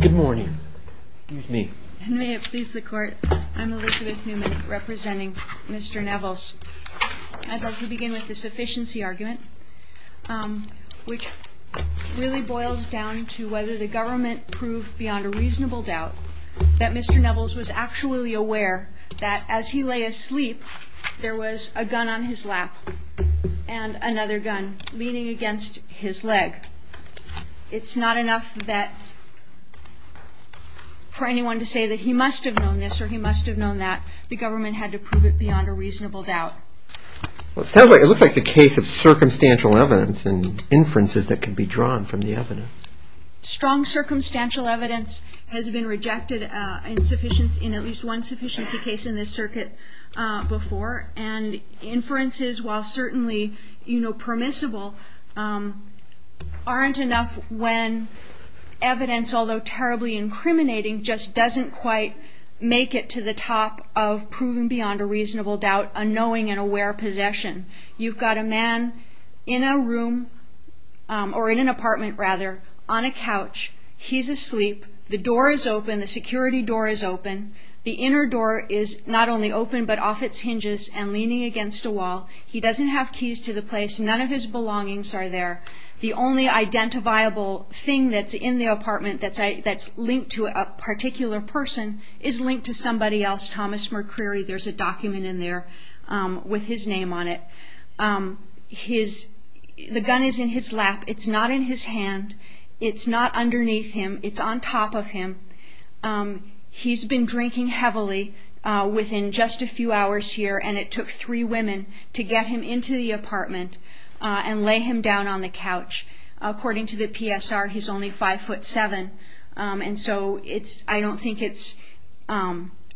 Good morning, excuse me. May it please the court, I'm Elizabeth Newman representing Mr. Nevils. I'd like to begin with the sufficiency argument, which really boils down to whether the government proved beyond a reasonable doubt that Mr. Nevils was actually aware that as he lay asleep there was a gun on his lap and another gun leaning against his leg. It's not enough for anyone to say that he must have known this or he must have known that. The government had to prove it beyond a reasonable doubt. It looks like it's a case of circumstantial evidence and inferences that can be drawn from the evidence. Strong circumstantial evidence has been rejected in at least one permissible aren't enough when evidence, although terribly incriminating, just doesn't quite make it to the top of proving beyond a reasonable doubt a knowing and aware possession. You've got a man in a room or in an apartment rather on a couch. He's asleep. The door is open, the security door is open. The inner door is not only open but off its hinges and leaning against a wall. He doesn't have keys to the place. None of his belongings are there. The only identifiable thing that's in the apartment that's linked to a particular person is linked to somebody else, Thomas McCreary. There's a document in there with his name on it. The gun is in his lap. It's not in his hand. It's not underneath him. It's on top of him. He's been drinking heavily within just a few hours here and it took three women to get him into the apartment and lay him down on the couch. According to the PSR, he's only five foot seven and so I don't think it's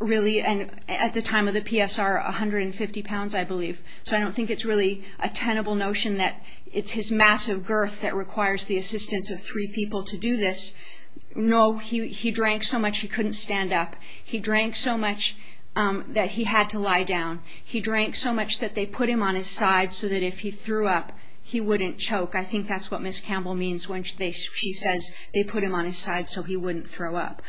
really, at the time of the PSR, a hundred and fifty pounds I believe. So I don't think it's really a tenable notion that it's his massive girth that requires the assistance of three people to do this. No, he drank so much that they put him on his side so that if he threw up, he wouldn't choke. I think that's what Ms. Campbell means when she says they put him on his side so he wouldn't throw up.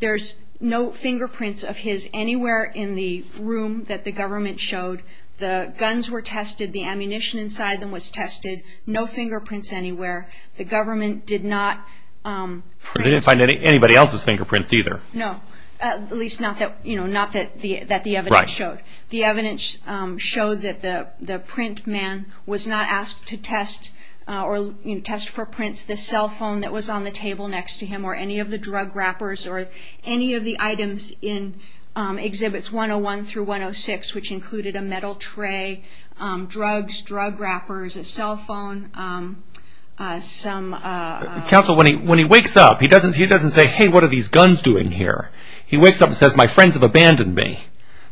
There's no fingerprints of his anywhere in the room that the government showed. The guns were tested. The ammunition inside them was tested. No fingerprints anywhere. The government did not find anybody else's the evidence showed. The evidence showed that the print man was not asked to test or test for prints, the cell phone that was on the table next to him or any of the drug wrappers or any of the items in Exhibits 101 through 106, which included a metal tray, drugs, drug wrappers, a cell phone, some... Counsel, when he wakes up, he doesn't say, hey, what are these guns doing here? He wakes up and says, my friends have abandoned me.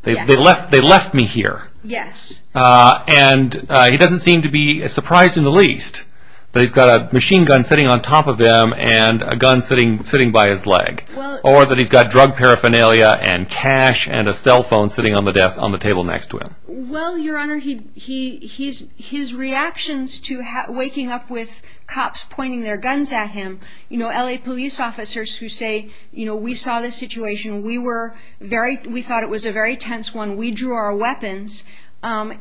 They left me here. Yes. And he doesn't seem to be surprised in the least that he's got a machine gun sitting on top of him and a gun sitting by his leg. Or that he's got drug paraphernalia and cash and a cell phone sitting on the desk on the table next to him. Well, your honor, his reactions to waking up with cops pointing their guns at him, you know, LA police officers who say, you know, we saw the situation, we were very... we thought it was a very tense one, we drew our weapons,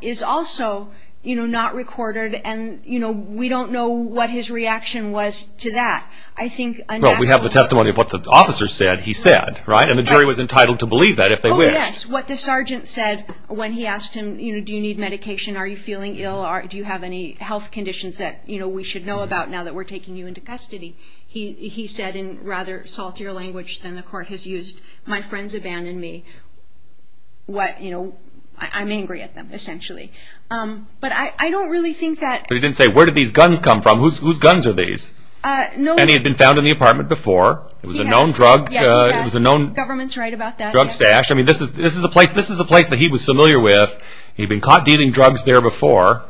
is also, you know, not recorded and, you know, we don't know what his reaction was to that. I think... Well, we have the testimony of what the officer said he said, right? And the jury was entitled to believe that if they wished. Yes, what the sergeant said when he asked him, you know, do you need medication? Are you feeling ill? Do you have any health conditions that, you know, we should know about now that we're taking you into my friends abandoned me. What, you know, I'm angry at them, essentially. But I don't really think that... But he didn't say, where did these guns come from? Whose guns are these? No... And he had been found in the apartment before. It was a known drug, it was a known... Government's right about that. Drug stash. I mean, this is a place that he was familiar with. He'd been caught dealing drugs there before.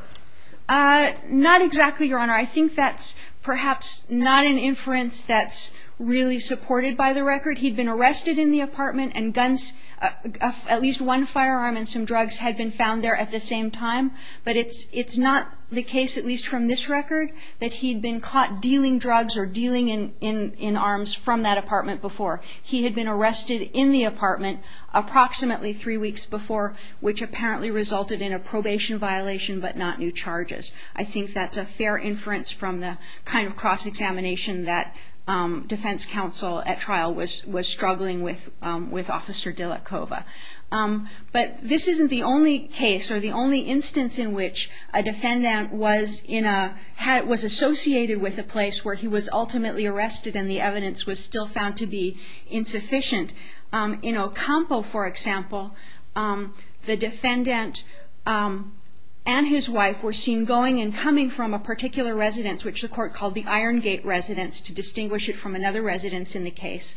Not exactly, your honor. I think that's perhaps not an inference that's really supported by the record. He'd been arrested in the apartment and guns... At least one firearm and some drugs had been found there at the same time. But it's not the case, at least from this record, that he'd been caught dealing drugs or dealing in arms from that apartment before. He had been arrested in the apartment approximately three weeks before, which apparently resulted in a probation violation, but not new charges. I think that's a fair inference from the kind of cross-examination that Defense Counsel at trial was struggling with, with Officer Dylakova. But this isn't the only case, or the only instance in which a defendant was in a... Was associated with a place where he was ultimately arrested and the evidence was still found to be insufficient. In Ocampo, for example, the defendant and his wife were seen going and coming from a particular residence, which the court called the Iron Gate Residence, to distinguish it from another residence in the case.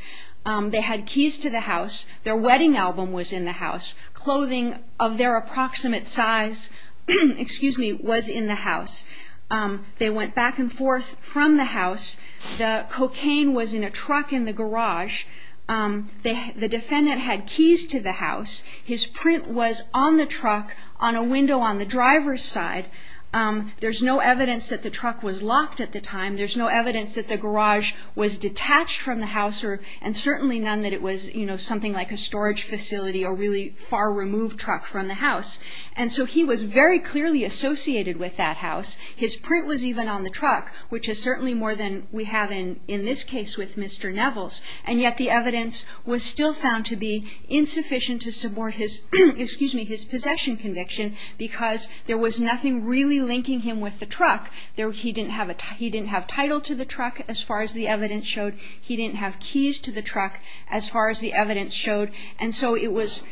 They had keys to the house. Their wedding album was in the house. Clothing of their approximate size, excuse me, was in the house. They went back and forth from the house. The cocaine was in a truck in the garage. The defendant had keys to the house. His print was on the truck on a window on the driver's side. There's no evidence that the truck was locked at the time. There's no evidence that the garage was detached from the house, and certainly none that it was, you know, something like a storage facility or really far-removed truck from the house. And so he was very clearly associated with that house. His print was even on the truck, which is certainly more than we have in in this case with Mr. Nevels. And yet the evidence was still found to be insufficient to support his, excuse me, his possession conviction because there was nothing really linking him with the truck. He didn't have a, he didn't have title to the truck, as far as the evidence showed. He didn't have keys to the truck, as far as the evidence showed. And so it was,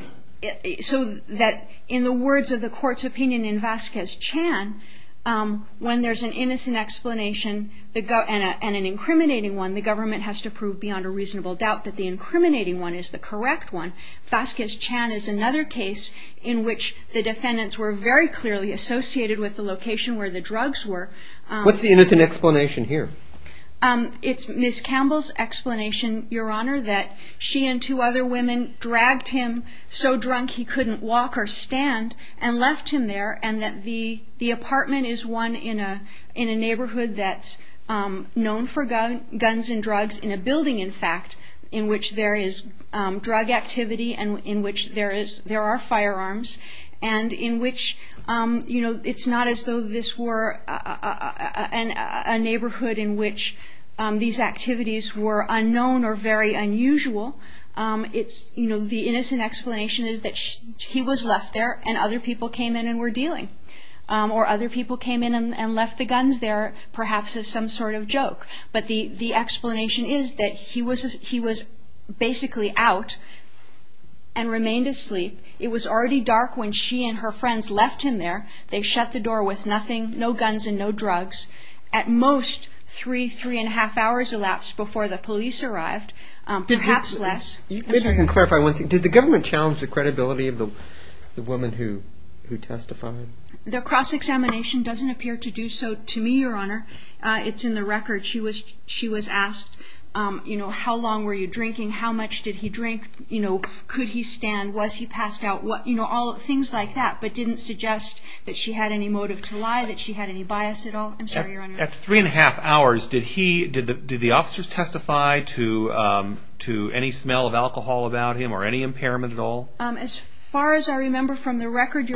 so that in the words of the court's opinion in Vasquez-Chan, when there's an innocent explanation and an incriminating one, the government has to prove beyond a reasonable doubt that the incriminating one is the correct one. Vasquez-Chan is another case in which the defendants were very clearly associated with the location where the drugs were. What's the innocent explanation here? It's Ms. Campbell's explanation, Your Honor, that she and two other women dragged him so drunk he couldn't walk or stand and left him there, and that the in fact, in which there is drug activity and in which there is, there are firearms, and in which, you know, it's not as though this were a neighborhood in which these activities were unknown or very unusual. It's, you know, the innocent explanation is that he was left there and other people came in and were dealing. Or other people came in and left the guns there, perhaps as some sort of joke. But the explanation is that he was basically out and remained asleep. It was already dark when she and her friends left him there. They shut the door with nothing, no guns and no drugs. At most, three, three and a half hours elapsed before the police arrived, perhaps less. Did the government challenge the credibility of the woman who testified? The cross-examination doesn't appear to do so to me, Your Honor. It's in the record. She was asked, you know, how long were you drinking? How much did he drink? You know, could he stand? Was he passed out? You know, all things like that, but didn't suggest that she had any motive to lie, that she had any bias at all. I'm sorry, Your Honor. At three and a half hours, did he, did the officers testify to any smell of alcohol about him or any impairment at all? As far as I remember from the testimony,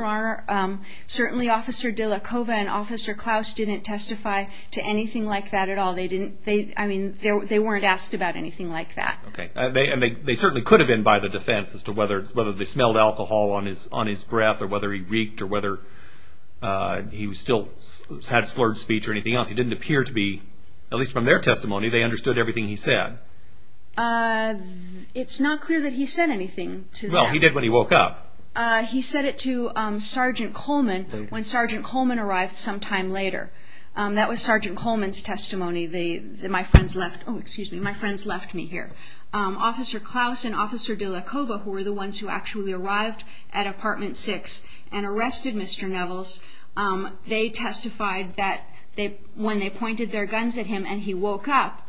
they didn't testify to anything like that at all. They didn't, they, I mean, they weren't asked about anything like that. Okay. And they certainly could have been by the defense as to whether they smelled alcohol on his breath or whether he reeked or whether he still had slurred speech or anything else. It didn't appear to be, at least from their testimony, they understood everything he said. It's not clear that he said anything to them. Well, he did when he woke up. He said it to Sergeant Coleman when Sergeant Coleman arrived some time later. That was Sergeant Coleman's testimony. They, my friends left, oh, excuse me, my friends left me here. Officer Klaus and Officer De La Coba, who were the ones who actually arrived at apartment six and arrested Mr. Nevels, they testified that they, when they pointed their guns at him and he woke up,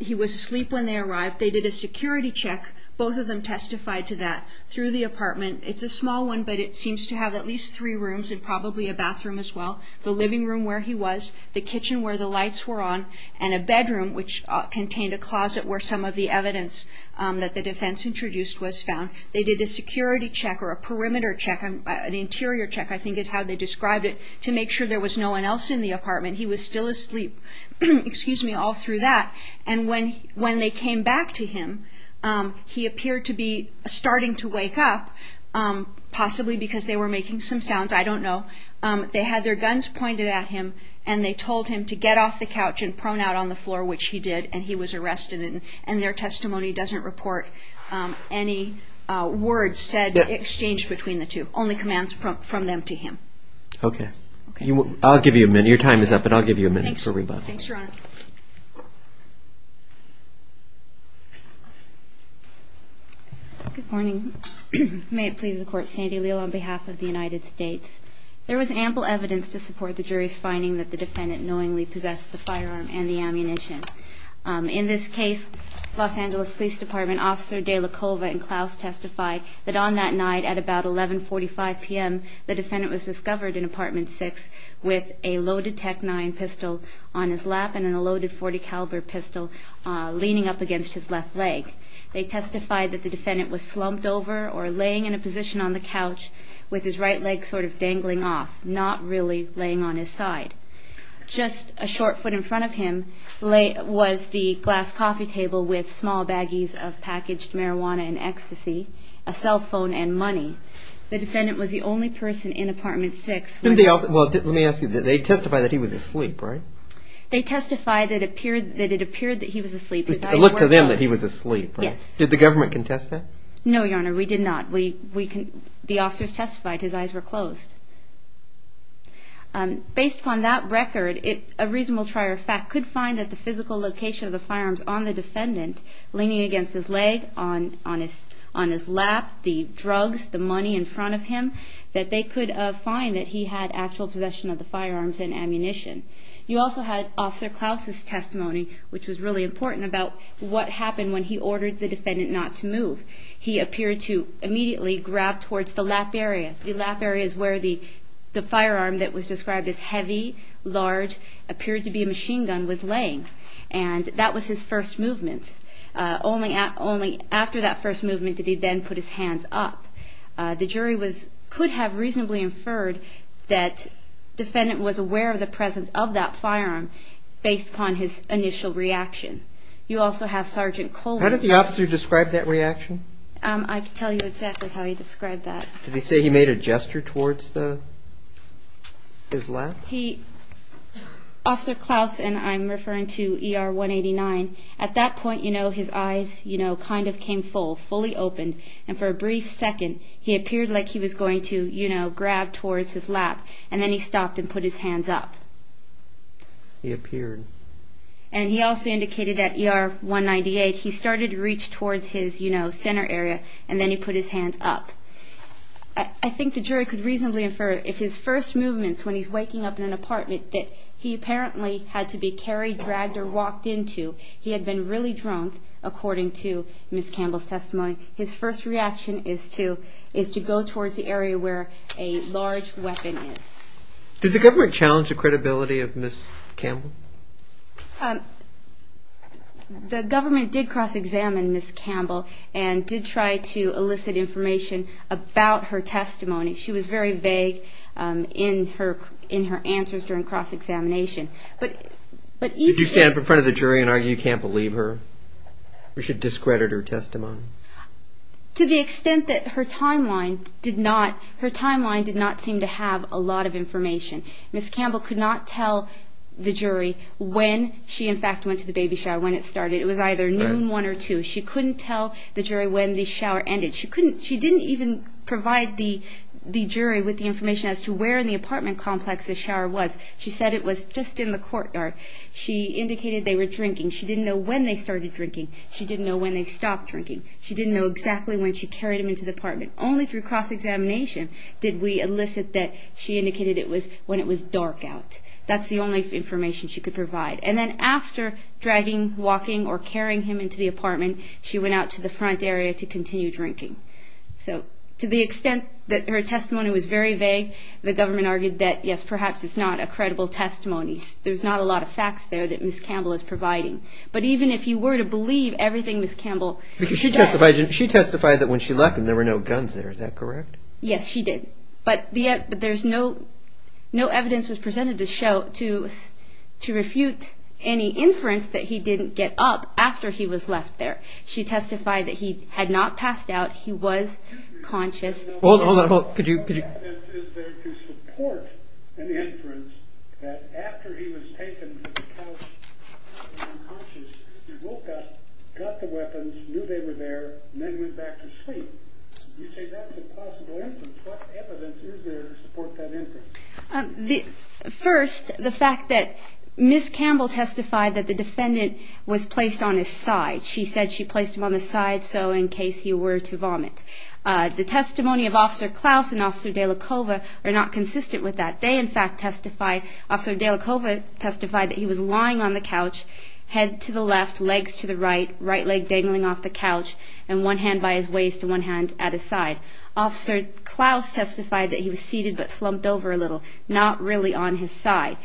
he was asleep when they arrived. They did a security check. Both of them testified to that through the apartment. It's a small one, but it seems to have at least three rooms and probably a bathroom as well, the living room where he was, the kitchen where the lights were on, and a bedroom, which contained a closet where some of the evidence that the defense introduced was found. They did a security check or a perimeter check, an interior check, I think is how they described it, to make sure there was no one else in the apartment. He was still asleep, excuse me, all through that. And when they came back to him, he appeared to be They had their guns pointed at him, and they told him to get off the couch and prone out on the floor, which he did, and he was arrested. And their testimony doesn't report any words said, exchanged between the two, only commands from them to him. Okay. I'll give you a minute. Your time is up, but I'll give you a minute for rebuttal. Thanks, Your Honor. Good morning. May it please the Court, Sandy Leal on behalf of the United States. There was ample evidence to support the jury's finding that the defendant knowingly possessed the firearm and the ammunition. In this case, Los Angeles Police Department Officer De La Colva and Klaus testified that on that night at about 11.45 p.m., the defendant was discovered in a loaded .40 caliber pistol, leaning up against his left leg. They testified that the defendant was slumped over or laying in a position on the couch, with his right leg sort of dangling off, not really laying on his side. Just a short foot in front of him was the glass coffee table with small baggies of packaged marijuana and ecstasy, a cell phone and money. The defendant was the only person in apartment 6. Well, let me ask you, they testified that he was asleep, right? They testified that it appeared that he was asleep. It looked to them that he was asleep. Yes. Did the government contest that? No, Your Honor, we did not. The officers testified his eyes were closed. Based upon that record, a reasonable trier of fact could find that the physical location of the firearms on the defendant, leaning against his leg, on his lap, the drugs, the money in front of him, that they could find that he had actual possession of the firearms and ammunition. You also had Officer Klaus's testimony, which was really important about what happened when he ordered the defendant not to move. He appeared to immediately grab towards the lap area, the lap areas where the firearm that was described as heavy, large, appeared to be a machine gun, was laying. And that was his first movement. Only after that first movement did he then put his hands up. The jury could have reasonably inferred that the defendant was aware of the presence of that firearm, based upon his initial reaction. You also have Sergeant Coleman. How did the officer describe that reaction? I can tell you exactly how he described that. Did he say he made a gesture towards his lap? He, Officer Klaus, and I'm referring to ER 189, at that point, you know, his eyes, you know, kind of came full, fully open. And for a brief second, he appeared like he was going to, you know, grab towards his lap. And then he stopped and put his hands up. He appeared. And he also indicated that ER 198, he started to reach towards his, you know, center area, and then he put his hands up. I think the jury could have inferred that he was in an apartment that he apparently had to be carried, dragged, or walked into. He had been really drunk, according to Ms. Campbell's testimony. His first reaction is to go towards the area where a large weapon is. Did the government challenge the credibility of Ms. Campbell? The government did cross-examine Ms. Campbell and did try to elicit information about her testimony. She was very vague in her answers during cross-examination. Did you stand up in front of the jury and argue you can't believe her? Or should discredit her testimony? To the extent that her timeline did not, her timeline did not seem to have a lot of information. Ms. Campbell could not tell the jury when she, in fact, went to the baby shower, when it started. It was either noon one or two. She couldn't tell the jury when the shower ended. She couldn't, she didn't even provide the jury with the information as to where in the apartment complex the shower was. She said it was just in the courtyard. She indicated they were drinking. She didn't know when they stopped drinking. She didn't know exactly when she carried him into the apartment. Only through cross-examination did we elicit that she indicated it was when it was dark out. That's the only information she could provide. And then after dragging, walking, or carrying him into the apartment, she went out to the front area to continue drinking. So, to the extent that her testimony was very vague, the government argued that, yes, perhaps it's not a credible testimony. There's not a lot of facts there that Ms. Campbell said. She testified that when she left him, there were no guns there. Is that correct? Yes, she did. But there's no evidence presented to refute any inference that he didn't get up after he was left there. She testified that he had not passed out. He was conscious. Hold on, hold on. Could you, could you? What evidence is there to support an inference that after he was taken to the couch, he woke up, got the weapons, knew they were there, and then went back to sleep? You say that's a possible inference. What evidence is there to support that inference? First, the fact that Ms. Campbell testified that the defendant was placed on his side. She said she placed him on the side so in case he were to vomit. The testimony of Officer Klaus and Officer De La Cova are not consistent with that. They, in fact, testify, Officer De La Cova testified that he was lying on the couch, head to the left, legs to the right, right leg dangling off the couch, and one hand by his waist and one hand at his side. Officer Klaus testified that he was seated but slumped over a little, not really on his side.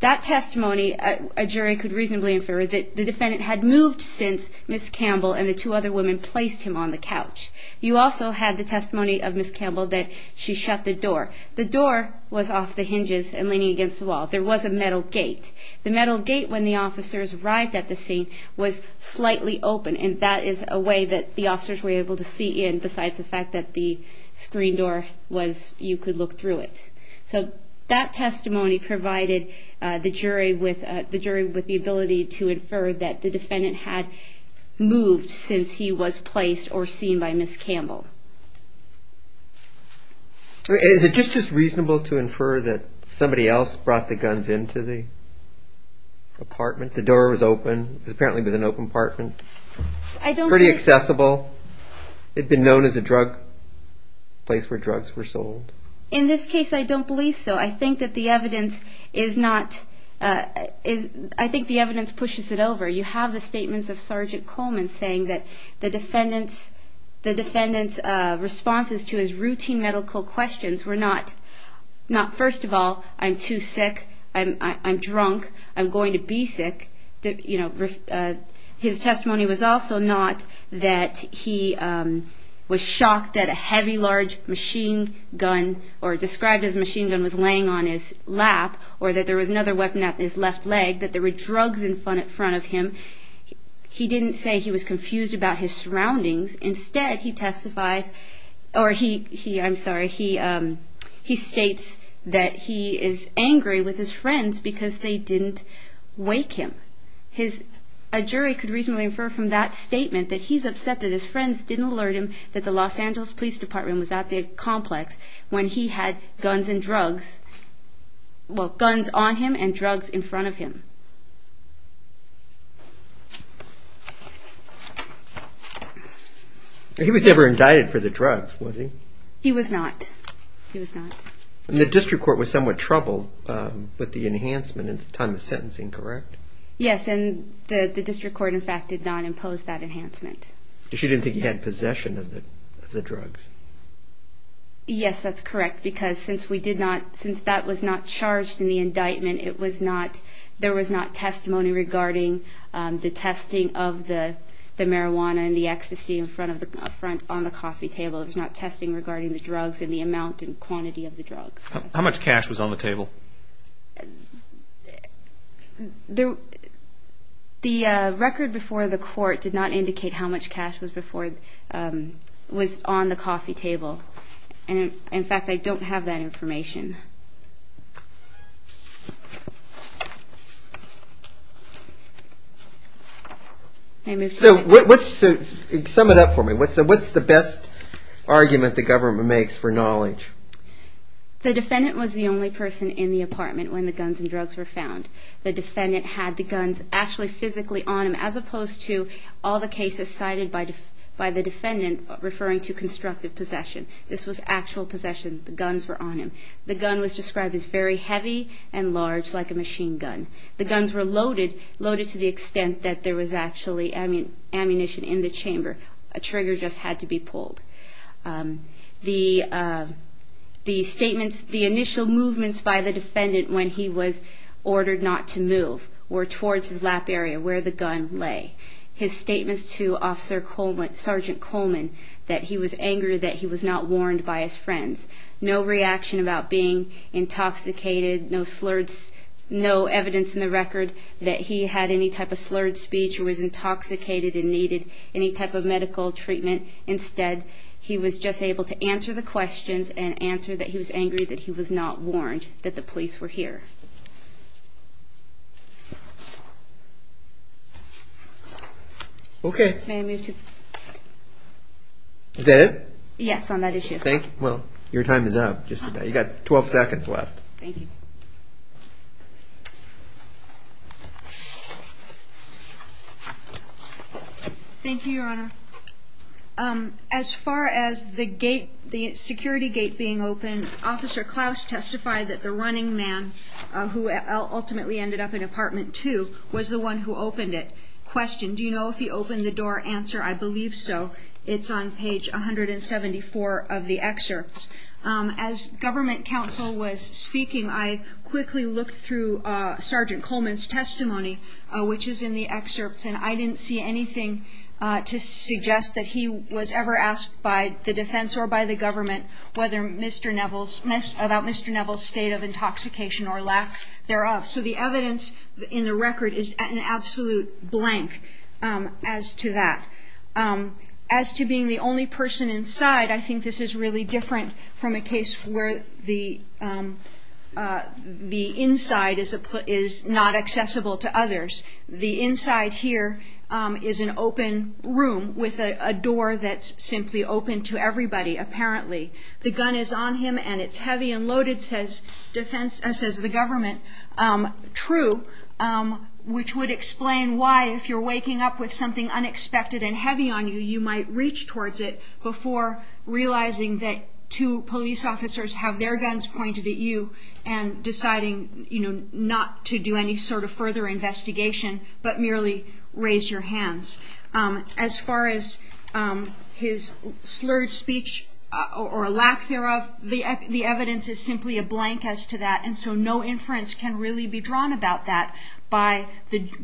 That testimony, a jury could reasonably infer that the defendant had moved since Ms. Campbell and the two other women placed him on the couch. You also had the testimony of Ms. Campbell that she shut the door. The door was off the hinges and leaning against the wall. There was a metal gate. The metal gate, when the officers arrived at the scene, was slightly open and that is a way that the officers were able to see in besides the fact that the screen door was, you could look through it. So that testimony provided the jury with the ability to infer that the defendant had moved since he was placed or seen by Ms. Campbell. Is it just as reasonable to infer that somebody else brought the guns into the apartment? The door was open. It was apparently an open apartment. Pretty accessible. It had been known as a place where drugs were sold. In this case, I don't believe so. I think that the evidence is not, I think the evidence pushes it over. You have the statements of Sergeant Coleman saying that the defendant's responses to his routine medical questions were not, first of all, I'm too sick, I'm drunk, I'm going to be sick. His testimony was also not that he was shocked that a heavy, large machine gun or described as a machine gun was laying on his lap or that there was another weapon at his left leg, that there were drugs in front of him. He didn't say he was confused about his surroundings. Instead, he testifies, or he, I'm sorry, he states that he is angry with his friends because they didn't wake him. A jury could reasonably infer from that statement that he's upset that his friends didn't alert him that the Los Angeles Police Department was at the complex when he had guns and drugs, well, guns on him and drugs in front of him. He was never indicted for the drugs, was he? He was not. He was not. The district court was somewhat troubled with the enhancement in the time of sentencing, correct? Yes, and the district court, in fact, did not impose that enhancement. She didn't think he had possession of the drugs? Yes, that's correct, because since that was not charged in the indictment, there was not testimony regarding the testing of the marijuana and the ecstasy on the coffee table. There was not testing regarding the drugs and the amount and quantity of the drugs. How much cash was on the table? The record before the court did not indicate how much cash was on the coffee table, and, in fact, I don't have that information. Sum it up for me. What's the best argument the government makes for knowledge? The defendant was the only person in the apartment when the guns and drugs were found. The defendant had the guns actually physically on him, as opposed to all the cases cited by the defendant referring to constructive possession. This was actual possession. The guns were on him. The gun was described as very heavy and large, like a machine gun. The guns were loaded, loaded to the extent that there was actually ammunition in the chamber. A trigger just had to be pulled. The initial movements by the defendant when he was ordered not to move were towards his lap area where the gun lay. His statements to Sergeant Coleman that he was angry that he was not warned by his friends. No reaction about being intoxicated. No evidence in the record that he had any type of slurred speech or was intoxicated and needed any type of medical treatment. Instead, he was just able to answer the questions and answer that he was angry that he was not warned, that the police were here. Okay. Is that it? Yes, on that issue. Well, your time is up. You've got 12 seconds left. Thank you. Thank you, Your Honor. As far as the gate, the security gate being open, Officer Klaus testified that the running man, who ultimately ended up in Apartment 2, was the one who opened it. Question, do you know if he opened the door? Answer, I believe so. It's on page 174 of the excerpts. As government counsel was speaking, I quickly looked through Sergeant Coleman's testimony, which is in the excerpts, and I didn't see anything to suggest that he was ever asked by the defense or by the government about Mr. Neville's state of intoxication or lack thereof. So the evidence in the record is an absolute blank as to that. As to being the only person inside, I think this is really different from a case where the inside is not accessible to others. The inside here is an open room with a door that's simply open to everybody, apparently. The gun is on him, and it's heavy and loaded, says the government. True, which would explain why, if you're waking up with something unexpected and heavy on you, you might reach towards it before realizing that two police officers have their guns pointed at you and deciding not to do any sort of further investigation but merely raise your hands. As far as his slurred speech or lack thereof, the evidence is simply a blank as to that, and so no inference can really be drawn about that,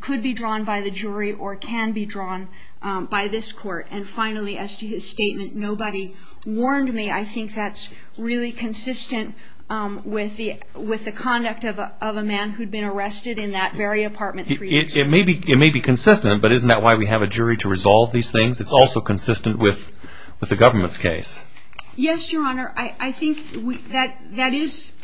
could be drawn by the jury or can be drawn by this court. And finally, as to his statement, nobody warned me. I think that's really consistent with the conduct of a man who'd been arrested in that very apartment three years ago. It may be consistent, but isn't that why we have a jury to resolve these things? It's also consistent with the government's case. Yes, Your Honor. I think that that is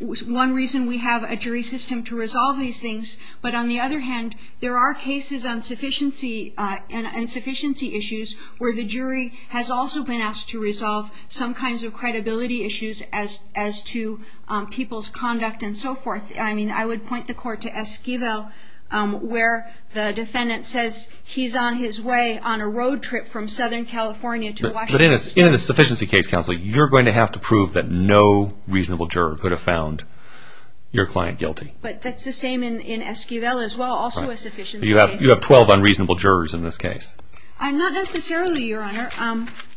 one reason we have a jury system to resolve these things. But on the other hand, there are cases on sufficiency and insufficiency issues where the jury has also been asked to resolve some kinds of credibility issues as to people's conduct and so forth. I mean, I would point the court to Esquivel where the defendant says he's on his way on a road trip from Southern California to Washington State. But in a sufficiency case, Counsel, you're going to have to prove that no reasonable juror could have found your client guilty. But that's the same in Esquivel as well, also a sufficiency case. You have 12 unreasonable jurors in this case. Not necessarily, Your Honor,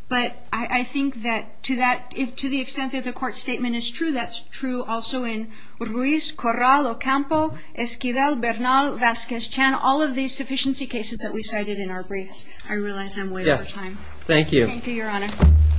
but I think that to the extent that the court statement is true, that's true also in Ruiz, Corral, Ocampo, Esquivel, Bernal, Vasquez, Chan, all of these sufficiency cases that we cited in our briefs. I realize I'm way over time. Thank you. Thank you, Your Honor. Submitted. Thank you, Your Honor.